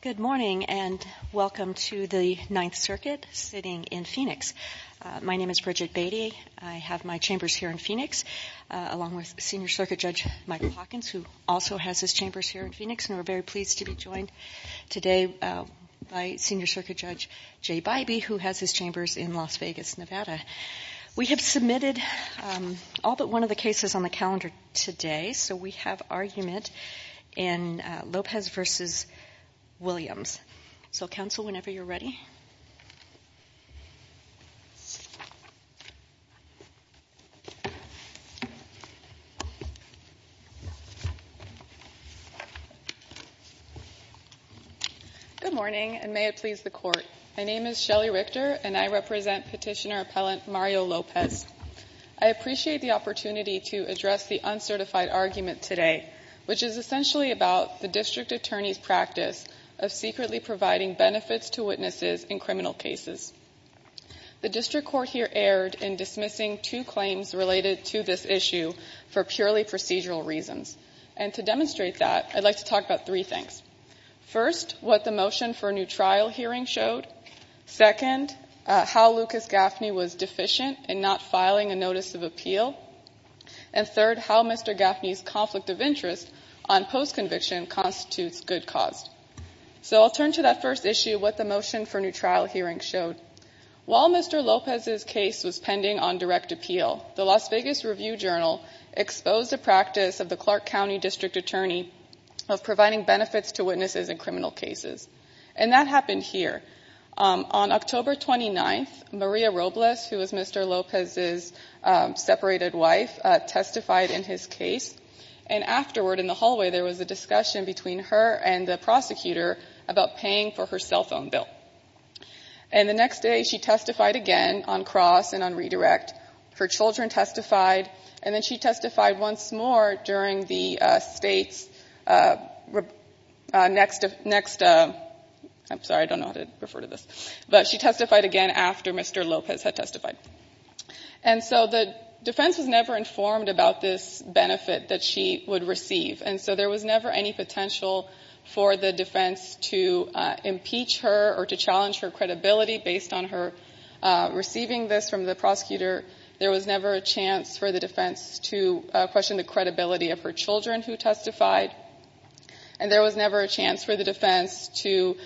Good morning and welcome to the Ninth Circuit sitting in Phoenix. My name is Bridget Beatty. I have my chambers here in Phoenix, along with Senior Circuit Judge Michael Hawkins, who also has his chambers here in Phoenix. And we're very pleased to be joined today by Senior Circuit Judge Jay Bybee, who has his chambers in Las Vegas, Nevada. We have submitted all but one of the cases on the calendar today, so we have argument in Lopez v. Williams. So, counsel, whenever you're ready. Good morning, and may it please the Court. My name is Shelley Richter, and I represent Petitioner Appellant Mario Lopez. I appreciate the opportunity to address the uncertified argument today, which is essentially about the District Attorney's practice of secretly providing benefits to witnesses in criminal cases. The District Court here erred in dismissing two claims related to this issue for purely procedural reasons. And to demonstrate that, I'd like to talk about three things. First, what the motion for a new trial hearing showed. Second, how Lucas Gaffney was deficient in not filing a notice of appeal. And third, how Mr. Gaffney's conflict of interest on post-conviction constitutes good cause. So I'll turn to that first issue, what the motion for a new trial hearing showed. While Mr. Lopez's case was pending on direct appeal, the Las Vegas Review-Journal exposed a practice of the Clark County District Attorney of providing benefits to witnesses in criminal cases. And that happened here. On October 29th, Maria Robles, who was Mr. Lopez's separated wife, testified in his case. And afterward, in the hallway, there was a discussion between her and the prosecutor about paying for her cell phone bill. And the next day, she testified again on cross and on redirect. Her children testified. And then she testified once more during the state's next ‑‑ I'm sorry, I don't know how to refer to this. But she testified again after Mr. Lopez had testified. And so the defense was never informed about this benefit that she would receive. And so there was never any potential for the defense to impeach her or to challenge her credibility based on her receiving this from the prosecutor. There was never a chance for the defense to question the credibility of her children who testified. And there was never a chance for the defense to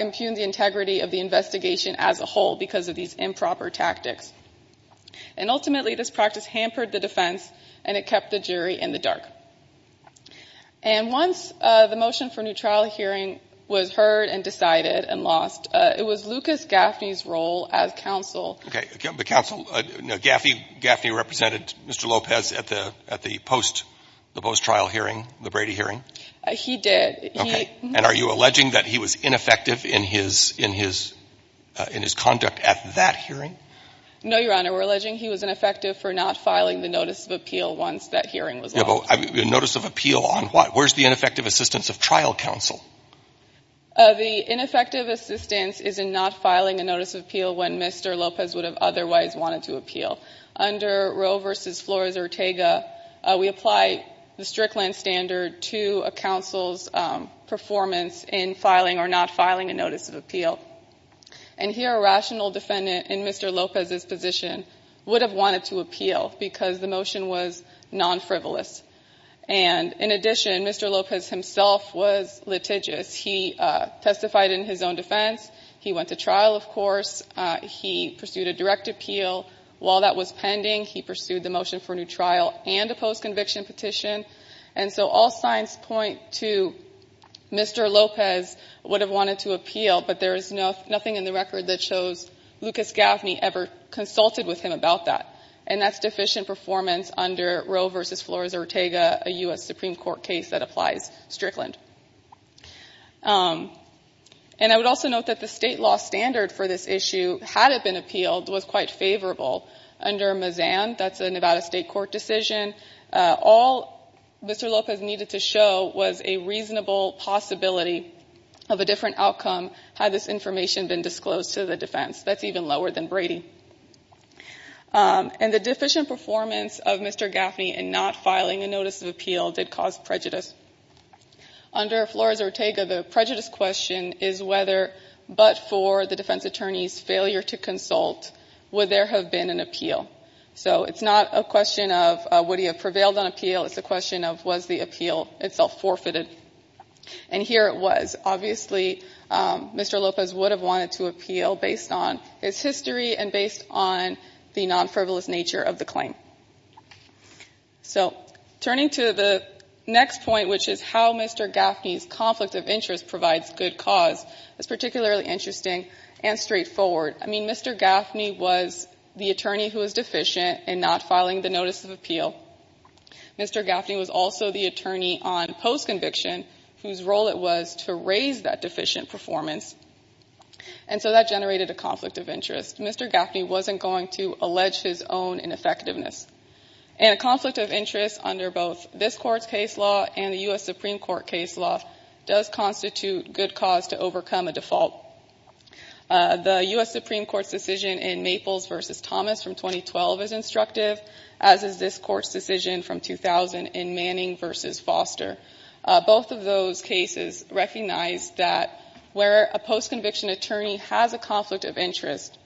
impugn the integrity of the investigation as a whole because of these improper tactics. And ultimately, this practice hampered the defense, and it kept the jury in the dark. And once the motion for a new trial hearing was heard and decided and lost, it was Lucas Gaffney's role as counsel. Okay. The counsel. Gaffney represented Mr. Lopez at the post‑trial hearing, the Brady hearing. He did. Okay. And are you alleging that he was ineffective in his conduct at that hearing? No, Your Honor. We're alleging he was ineffective for not filing the notice of appeal once that hearing was lost. A notice of appeal on what? Where's the ineffective assistance of trial counsel? The ineffective assistance is in not filing a notice of appeal when Mr. Lopez would have otherwise wanted to appeal. Under Roe v. Flores‑Ortega, we apply the Strickland standard to a counsel's performance in filing or not filing a notice of appeal. And here, a rational defendant in Mr. Lopez's position would have wanted to appeal because the motion was nonfrivolous. And in addition, Mr. Lopez himself was litigious. He testified in his own defense. He went to trial, of course. He pursued a direct appeal. While that was pending, he pursued the motion for a new trial and a post‑conviction petition. And so all signs point to Mr. Lopez would have wanted to appeal, but there is nothing in the record that shows Lucas Gaffney ever consulted with him about that. And that's deficient performance under Roe v. Flores‑Ortega, a U.S. Supreme Court case that applies Strickland. And I would also note that the state law standard for this issue, had it been appealed, was quite favorable under Mazan. That's a Nevada state court decision. All Mr. Lopez needed to show was a reasonable possibility of a different outcome had this information been disclosed to the defense. That's even lower than Brady. And the deficient performance of Mr. Gaffney in not filing a notice of appeal did cause prejudice. Under Flores‑Ortega, the prejudice question is whether but for the defense attorney's failure to consult would there have been an appeal. So it's not a question of would he have prevailed on appeal, it's a question of was the appeal itself forfeited. And here it was. Obviously, Mr. Lopez would have wanted to appeal based on his history and based on the non‑frivolous nature of the claim. So turning to the next point, which is how Mr. Gaffney's conflict of interest provides good cause, is particularly interesting and straightforward. I mean, Mr. Gaffney was the attorney who was deficient in not filing the notice of appeal. Mr. Gaffney was also the attorney on postconviction whose role it was to raise that deficient performance. And so that generated a conflict of interest. Mr. Gaffney wasn't going to allege his own ineffectiveness. And a conflict of interest under both this Court's case law and the U.S. Supreme Court case law does constitute good cause to overcome a default. The U.S. Supreme Court's decision in Maples v. Thomas from 2012 is instructive, as is this Court's decision from 2000 in Manning v. Foster. Both of those cases recognize that where a postconviction attorney has a conflict of interest,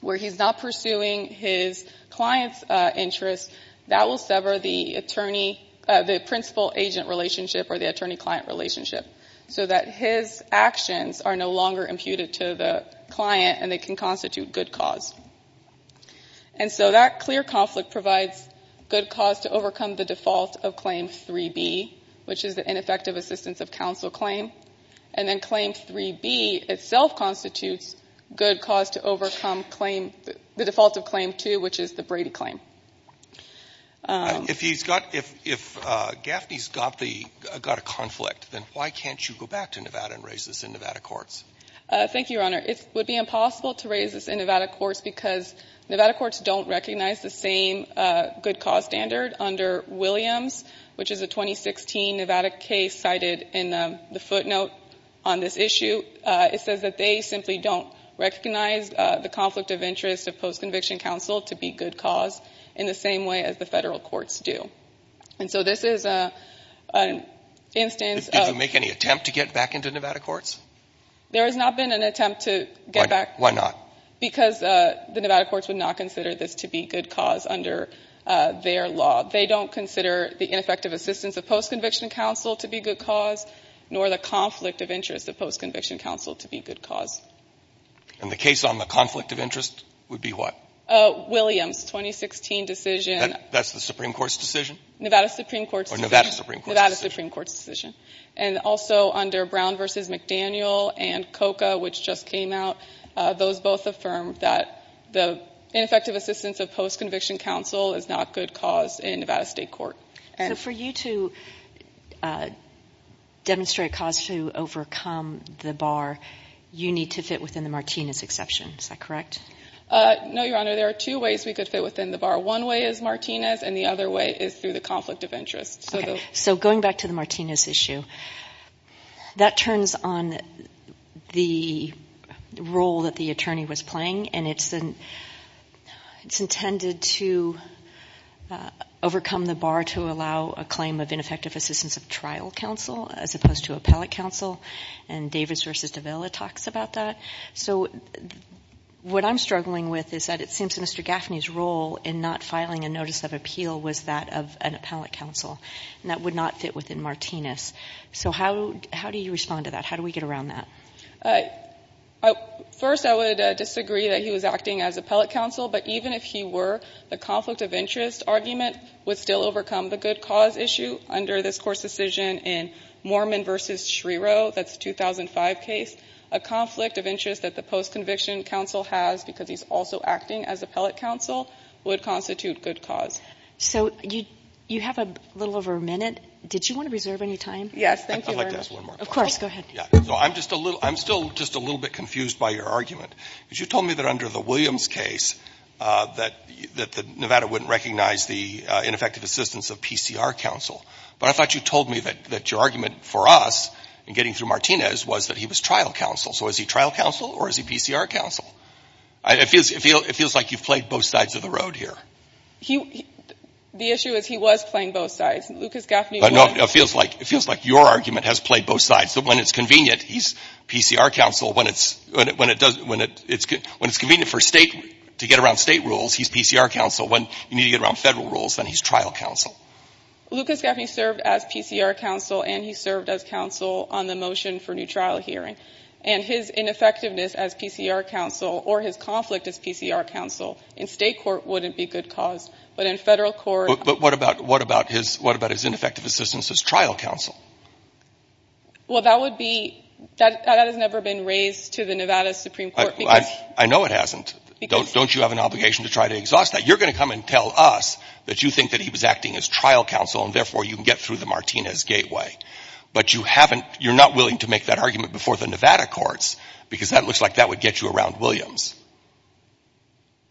where he's not pursuing his client's interest, that will sever the attorney ‑‑ the principal agent relationship or the attorney client relationship, so that his actions are no longer imputed to the client and they can constitute good cause. And so that clear conflict provides good cause to overcome the default of Claim 3B, which is the ineffective assistance of counsel claim. And then Claim 3B itself constitutes good cause to overcome the default of Claim 2, which is the Brady claim. If he's got ‑‑ if Gaffney's got the ‑‑ got a conflict, then why can't you go back to Nevada and raise this in Nevada courts? Thank you, Your Honor. It would be impossible to raise this in Nevada courts because Nevada courts don't recognize the same good cause standard under Williams, which is a 2016 Nevada case cited in the footnote on this issue. It says that they simply don't recognize the conflict of interest of postconviction counsel to be good cause in the same way as the federal courts do. And so this is an instance of ‑‑ Did you make any attempt to get back into Nevada courts? There has not been an attempt to get back ‑‑ Why not? Because the Nevada courts would not consider this to be good cause under their law. They don't consider the ineffective assistance of postconviction counsel to be good cause nor the conflict of interest of postconviction counsel to be good cause. And the case on the conflict of interest would be what? Williams, 2016 decision. That's the Supreme Court's decision? Nevada Supreme Court's decision. Nevada Supreme Court's decision. And also under Brown v. McDaniel and COCA, which just came out, those both affirmed that the ineffective assistance of postconviction counsel is not good cause in Nevada state court. So for you to demonstrate a cause to overcome the bar, you need to fit within the Martinez exception. Is that correct? No, Your Honor. There are two ways we could fit within the bar. One way is Martinez and the other way is through the conflict of interest. Okay. So going back to the Martinez issue, that turns on the role that the attorney was playing, and it's intended to overcome the bar to allow a claim of ineffective assistance of trial counsel as opposed to appellate counsel, and Davis v. Davila talks about that. So what I'm struggling with is that it seems Mr. Gaffney's role in not filing a notice of appeal was that of an appellate counsel, and that would not fit within Martinez. So how do you respond to that? How do we get around that? First, I would disagree that he was acting as appellate counsel, but even if he were, the conflict of interest argument would still overcome the good cause issue. Under this court's decision in Mormon v. Schrierow, that's the 2005 case, a conflict of interest that the post-conviction counsel has because he's also acting as appellate counsel would constitute good cause. So you have a little over a minute. Did you want to reserve any time? Yes. Thank you, Your Honor. I'd like to ask one more question. Of course. Go ahead. I'm still just a little bit confused by your argument. Because you told me that under the Williams case that Nevada wouldn't recognize the ineffective assistance of PCR counsel. But I thought you told me that your argument for us in getting through Martinez was that he was trial counsel. So is he trial counsel or is he PCR counsel? It feels like you've played both sides of the road here. The issue is he was playing both sides. Lucas Gaffney was. No, it feels like your argument has played both sides. When it's convenient, he's PCR counsel. When it's convenient to get around state rules, he's PCR counsel. When you need to get around federal rules, then he's trial counsel. Lucas Gaffney served as PCR counsel and he served as counsel on the motion for new trial hearing. And his ineffectiveness as PCR counsel or his conflict as PCR counsel in state court wouldn't be good cause. But in federal court — But what about his ineffective assistance as trial counsel? Well, that would be — that has never been raised to the Nevada Supreme Court because — I know it hasn't. Don't you have an obligation to try to exhaust that? You're going to come and tell us that you think that he was acting as trial counsel and therefore you can get through the Martinez gateway. But you haven't — you're not willing to make that argument before the Nevada courts because that looks like that would get you around Williams.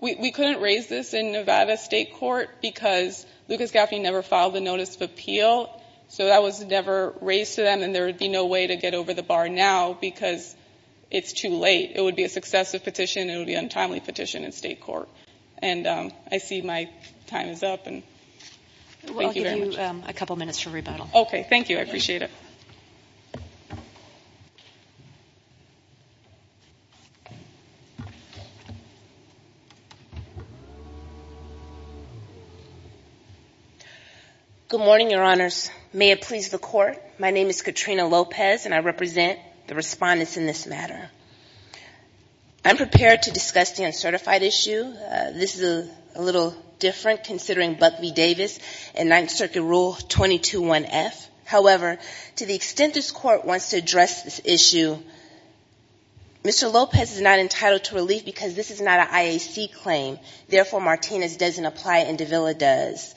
We couldn't raise this in Nevada state court because Lucas Gaffney never filed the notice of appeal. So that was never raised to them. And there would be no way to get over the bar now because it's too late. It would be a successive petition. It would be an untimely petition in state court. And I see my time is up. And thank you very much. I'll give you a couple minutes for rebuttal. Okay. Thank you. I appreciate it. Good morning, Your Honors. May it please the Court. My name is Katrina Lopez and I represent the respondents in this matter. I'm prepared to discuss the uncertified issue. This is a little different considering Buck v. Davis and Ninth Circuit Rule 221F. However, to the extent this Court wants to address this issue, Mr. Lopez is not entitled to relief because this is not an IAC claim. Therefore, Martinez doesn't apply and Davila does.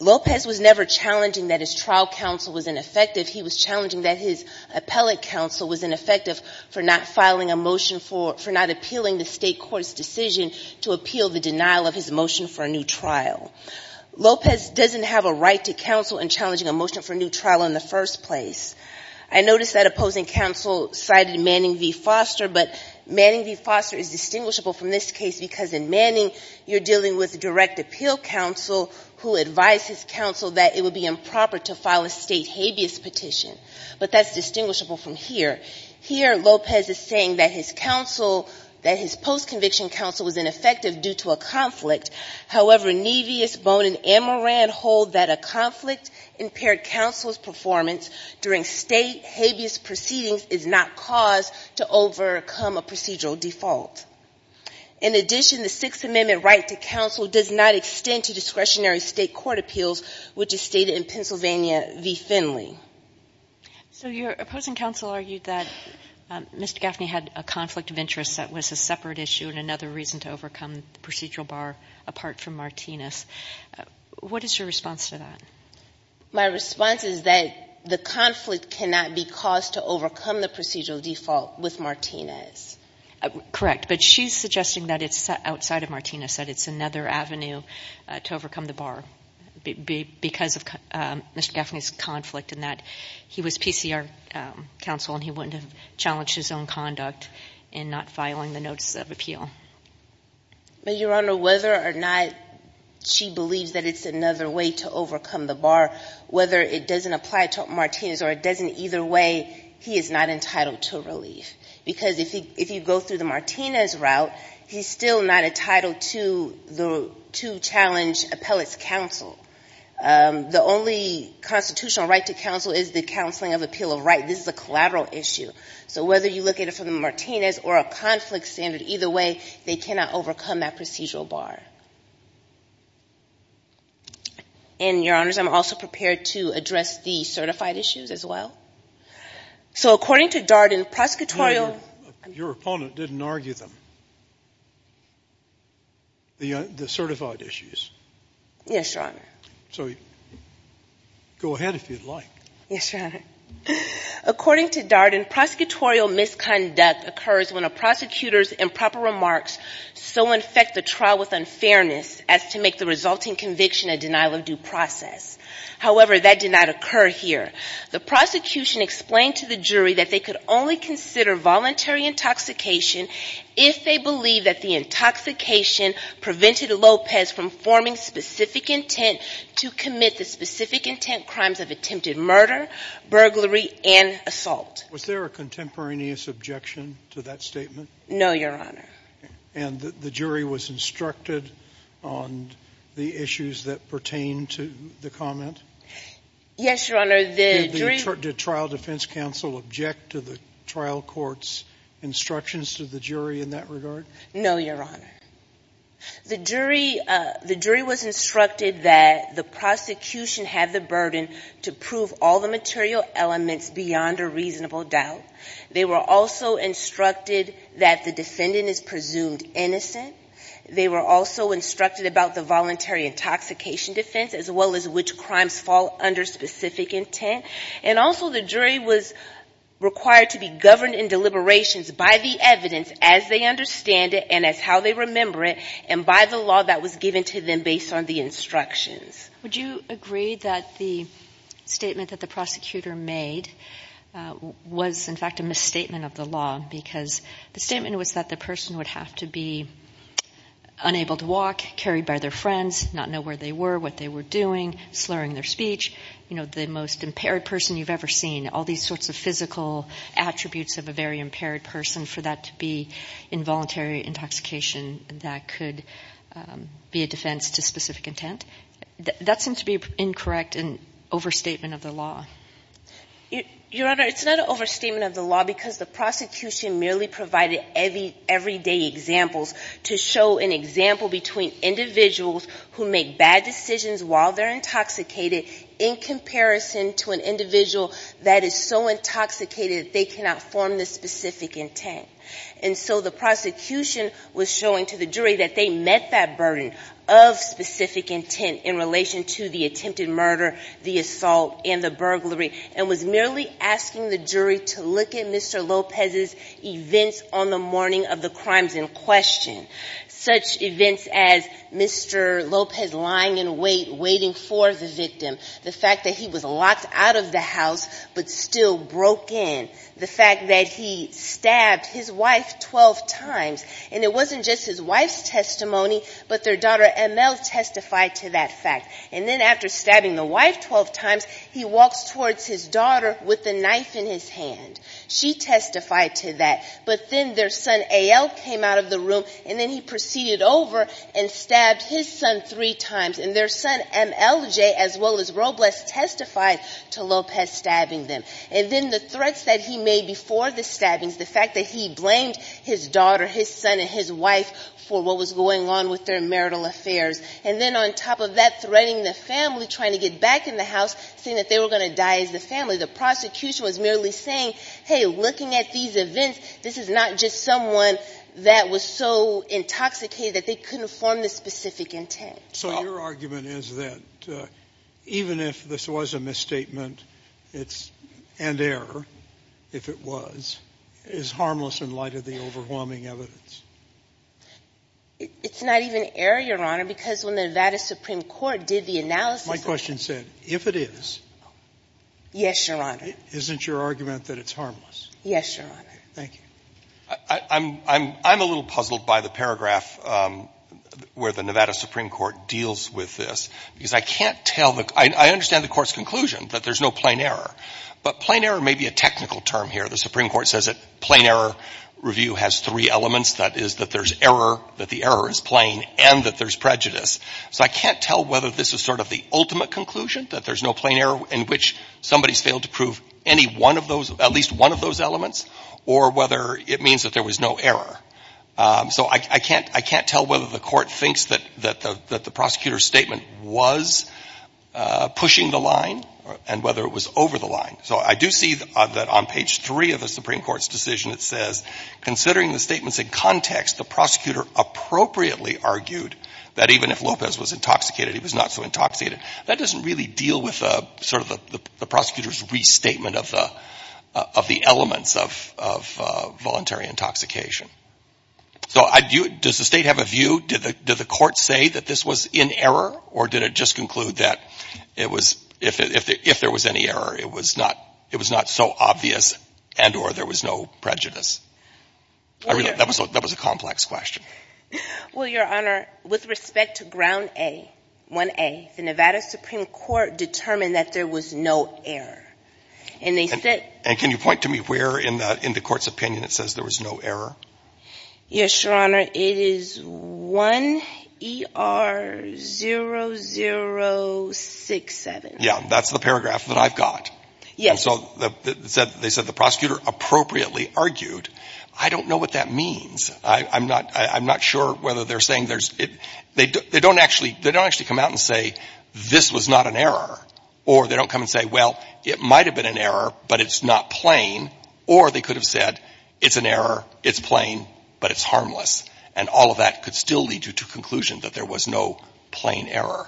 Lopez was never challenging that his trial counsel was ineffective. He was challenging that his appellate counsel was ineffective for not filing a motion for — for not appealing the state court's decision to appeal the denial of his motion for a new trial. Lopez doesn't have a right to counsel in challenging a motion for a new trial in the first place. I noticed that opposing counsel cited Manning v. Foster, but Manning v. Foster is distinguishable from this case because in Manning, you're dealing with a direct appeal counsel who advised his counsel that it would be improper to file a state habeas petition. But that's distinguishable from here. Here, Lopez is saying that his counsel — that his post-conviction counsel was ineffective due to a conflict. However, Nevis, Bonin, and Moran hold that a conflict-impaired counsel's performance during state habeas proceedings is not cause to overcome a procedural default. In addition, the Sixth Amendment right to counsel does not extend to discretionary state court appeals, which is stated in Pennsylvania v. Finley. So your opposing counsel argued that Mr. Gaffney had a conflict of interest that was a separate issue and another reason to overcome the procedural bar apart from Martinez. What is your response to that? My response is that the conflict cannot be cause to overcome the procedural default with Martinez. Correct. But she's suggesting that it's outside of Martinez, that it's another avenue to overcome the bar because of Mr. Gaffney's conflict, and that he was PCR counsel and he wouldn't have challenged his own conduct in not filing the notice of appeal. But, Your Honor, whether or not she believes that it's another way to overcome the bar, whether it doesn't apply to Martinez or it doesn't either way, he is not entitled to relief. Because if you go through the Martinez route, he's still not entitled to challenge appellate's counsel. The only constitutional right to counsel is the counseling of appeal of right. This is a collateral issue. So whether you look at it from the Martinez or a conflict standard, either way, they cannot overcome that procedural bar. And, Your Honors, I'm also prepared to address the certified issues as well. So according to Darden, prosecutorial – Your opponent didn't argue them, the certified issues. Yes, Your Honor. So go ahead if you'd like. Yes, Your Honor. According to Darden, prosecutorial misconduct occurs when a prosecutor's improper remarks so infect the trial with unfairness as to make the resulting conviction a denial of due process. However, that did not occur here. The prosecution explained to the jury that they could only consider voluntary intoxication if they believe that the intoxication prevented Lopez from forming specific intent to commit the specific intent crimes of attempted murder, burglary, and assault. Was there a contemporaneous objection to that statement? No, Your Honor. And the jury was instructed on the issues that pertain to the comment? Yes, Your Honor. Did the trial defense counsel object to the trial court's instructions to the jury in that regard? No, Your Honor. The jury was instructed that the prosecution have the burden to prove all the material elements beyond a reasonable doubt. They were also instructed that the defendant is presumed innocent. They were also instructed about the voluntary intoxication defense as well as which crimes fall under specific intent. And also the jury was required to be governed in deliberations by the evidence as they understand it and as how they remember it and by the law that was given to them based on the instructions. Would you agree that the statement that the prosecutor made was in fact a misstatement of the law because the statement was that the person would have to be unable to walk, carried by their friends, not know where they were, what they were doing, slurring their speech, you know, the most impaired person you've ever seen, all these sorts of physical attributes of a very impaired person for that to be involuntary intoxication that could be a defense to specific intent? That seems to be incorrect and overstatement of the law. Your Honor, it's not an overstatement of the law because the prosecution merely provided everyday examples to show an example between individuals who make bad decisions while they're intoxicated in comparison to an individual that is so intoxicated they cannot form the specific intent. And so the prosecution was showing to the jury that they met that burden of specific intent in relation to the attempted murder, the assault, and the burglary and was merely asking the jury to look at Mr. Lopez's events on the morning of the crimes in question, such events as Mr. Lopez lying in wait, waiting for the victim, the fact that he was locked out of the house but still broke in, the fact that he stabbed his wife 12 times, and it wasn't just his wife's testimony, but their daughter ML testified to that fact. And then after stabbing the wife 12 times, he walks towards his daughter with a knife in his hand. She testified to that, but then their son AL came out of the room and then he proceeded over and stabbed his son three times. And their son MLJ, as well as Robles, testified to Lopez stabbing them. And then the threats that he made before the stabbings, the fact that he blamed his daughter, his son, and his wife for what was going on with their marital affairs. And then on top of that, threatening the family, trying to get back in the house, saying that they were going to die as the family. The prosecution was merely saying, hey, looking at these events, this is not just someone that was so intoxicated that they couldn't form the specific intent. So your argument is that even if this was a misstatement, it's, and error, if it was, is harmless in light of the overwhelming evidence? It's not even error, Your Honor, because when the Nevada Supreme Court did the analysis... My question said, if it is... Yes, Your Honor. Isn't your argument that it's harmless? Yes, Your Honor. Thank you. I'm a little puzzled by the paragraph where the Nevada Supreme Court deals with this, because I can't tell the, I understand the Court's conclusion, that there's no plain error. But plain error may be a technical term here. The Supreme Court says that plain error review has three elements, that is, that there's error, that the error is plain, and that there's prejudice. So I can't tell whether this is sort of the ultimate conclusion, that there's no plain error in which somebody's failed to prove any one of those, at least one of those elements, or whether it means that there was no error. So I can't, I can't tell whether the Court thinks that the prosecutor's statement was pushing the line and whether it was over the line. So I do see that on page three of the Supreme Court's decision, it says, considering the statements in context, the prosecutor appropriately argued that even if Lopez was intoxicated, he was not so intoxicated. That doesn't really deal with sort of the prosecutor's restatement of the elements of voluntary intoxication. So does the State have a view? Did the Court say that this was in error, or did it just conclude that it was, if there was any error, it was not so obvious and or there was no prejudice? That was a complex question. Well, Your Honor, with respect to ground A, 1A, the Nevada Supreme Court determined that there was no error. And they said... And can you point to me where in the Court's opinion it says there was no error? Yes, Your Honor. It is 1ER0067. Yeah, that's the paragraph that I've got. And so they said the prosecutor appropriately argued. I don't know what that means. I'm not sure whether they're saying there's... They don't actually come out and say, this was not an error. Or they don't come and say, well, it might have been an error, but it's not plain. Or they could have said, it's an error, it's plain, but it's harmless. And all of that could still lead you to conclusion that there was no plain error.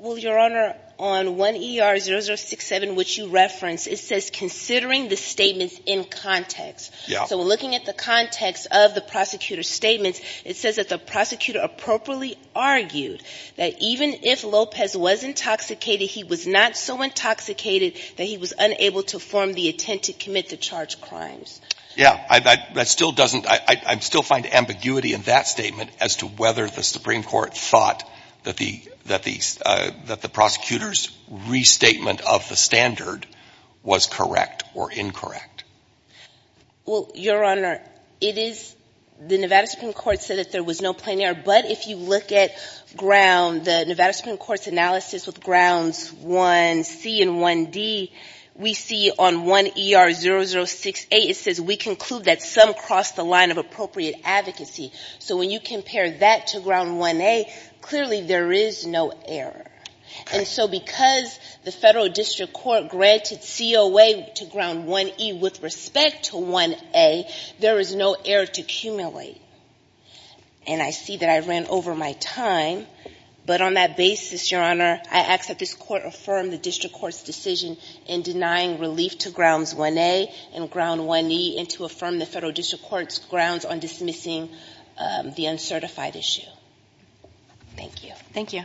Well, Your Honor, on 1ER0067, which you referenced, it says considering the statements in context. Yeah. So looking at the context of the prosecutor's statements, it says that the prosecutor appropriately argued that even if Lopez was intoxicated, he was not so intoxicated that he was unable to form the intent to commit the charged crimes. Yeah. That still doesn't... I still find ambiguity in that statement as to whether the Supreme Court thought that the prosecutor's restatement of the standard was correct or incorrect. Well, Your Honor, it is... The Nevada Supreme Court said that there was no plain error, but if you look at ground, the Nevada Supreme Court's analysis with Grounds 1C and 1D, we see on 1ER0068, it says we conclude that some crossed the line of appropriate advocacy. So when you compare that to Ground 1A, clearly there is no error. And so because the Federal District Court granted COA to Ground 1E with respect to 1A, there is no error to accumulate. And I see that I ran over my time, but on that basis, Your Honor, I ask that this Court affirm the District Court's decision in denying relief to Grounds 1A and Ground 1E and to affirm the Federal District Court's decision in dismissing the uncertified issue. Thank you. Thank you.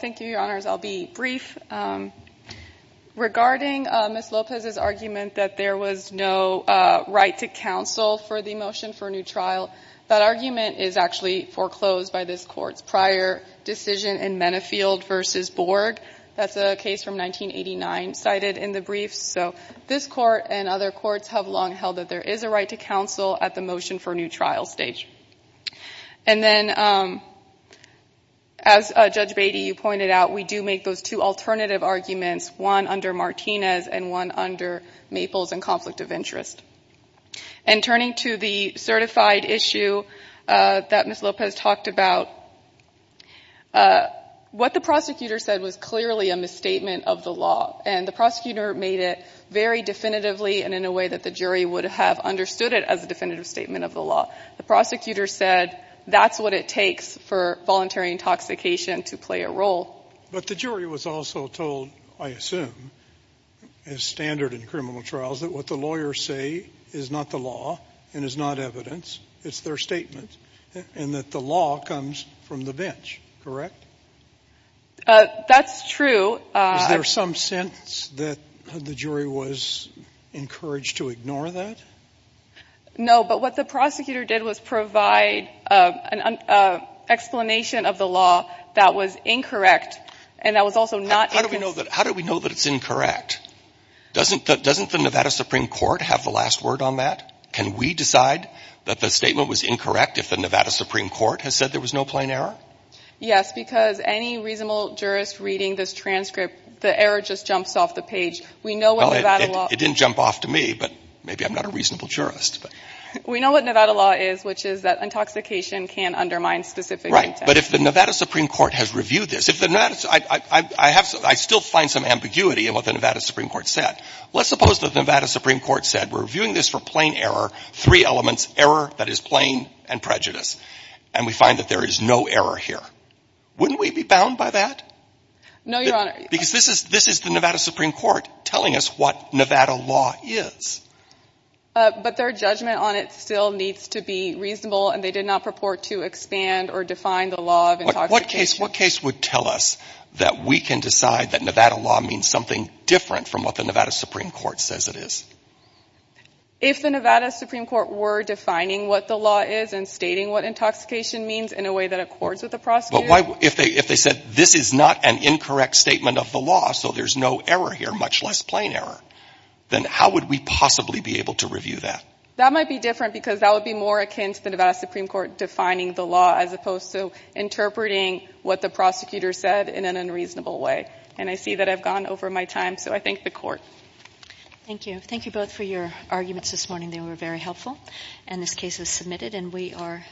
Thank you, Your Honors. I'll be brief. Regarding Ms. Lopez's argument that there was no right to counsel for the motion for a new trial, that argument is actually foreclosed by this Court's prior decision in Mennefield v. Borg. That's a case from 1989 cited in the briefs. So this Court and other courts have long held that there is a right to counsel at the motion for a new trial stage. And then as Judge Beatty, you pointed out, we do make those two alternative arguments, one under Martinez and one under Maples and conflict of interest. And turning to the certified issue that Ms. Lopez talked about, what the prosecutor said was clearly a misstatement of the law. And the prosecutor made it very definitively and in a way that the jury would have understood it as a definitive statement of the law. The prosecutor said that's what it takes for voluntary intoxication to play a role. But the jury was also told, I assume, as standard in criminal trials, that what the lawyers say is not the law and is not evidence, it's their statement, and that the law comes from the bench, correct? That's true. Is there some sense that the jury was encouraged to ignore that? No, but what the prosecutor did was provide an explanation of the law that was incorrect and that was also not inconsistent. How do we know that it's incorrect? Doesn't the Nevada Supreme Court have the last word on that? Can we decide that the statement was incorrect if the Nevada Supreme Court has said there was no plain error? Yes, because any reasonable jurist reading this transcript, the error just jumps off the page. It didn't jump off to me, but maybe I'm not a reasonable jurist. We know what Nevada law is, which is that intoxication can undermine specific intent. Right, but if the Nevada Supreme Court has reviewed this, I still find some ambiguity in what the Nevada Supreme Court said. Let's suppose the Nevada Supreme Court said, we're reviewing this for plain error, three elements, error, that is plain, and prejudice, and we find that there is no error here. Wouldn't we be bound by that? No, Your Honor. Because this is the Nevada Supreme Court telling us what Nevada law is. But their judgment on it still needs to be reasonable, and they did not purport to expand or define the law of intoxication. What case would tell us that we can decide that Nevada law means something different from what the Nevada Supreme Court says it is? If the Nevada Supreme Court were defining what the law is and stating what intoxication means in a way that accords with the prosecutor... But why, if they said, this is not an incorrect statement of the law, so there's no error here, much less plain error, then how would we possibly be able to review that? That might be different, because that would be more akin to the Nevada Supreme Court defining the law, as opposed to interpreting what the prosecutor said in an over my time. So I thank the Court. Thank you. Thank you both for your arguments this morning. They were very helpful. And this case is submitted, and we are adjourned.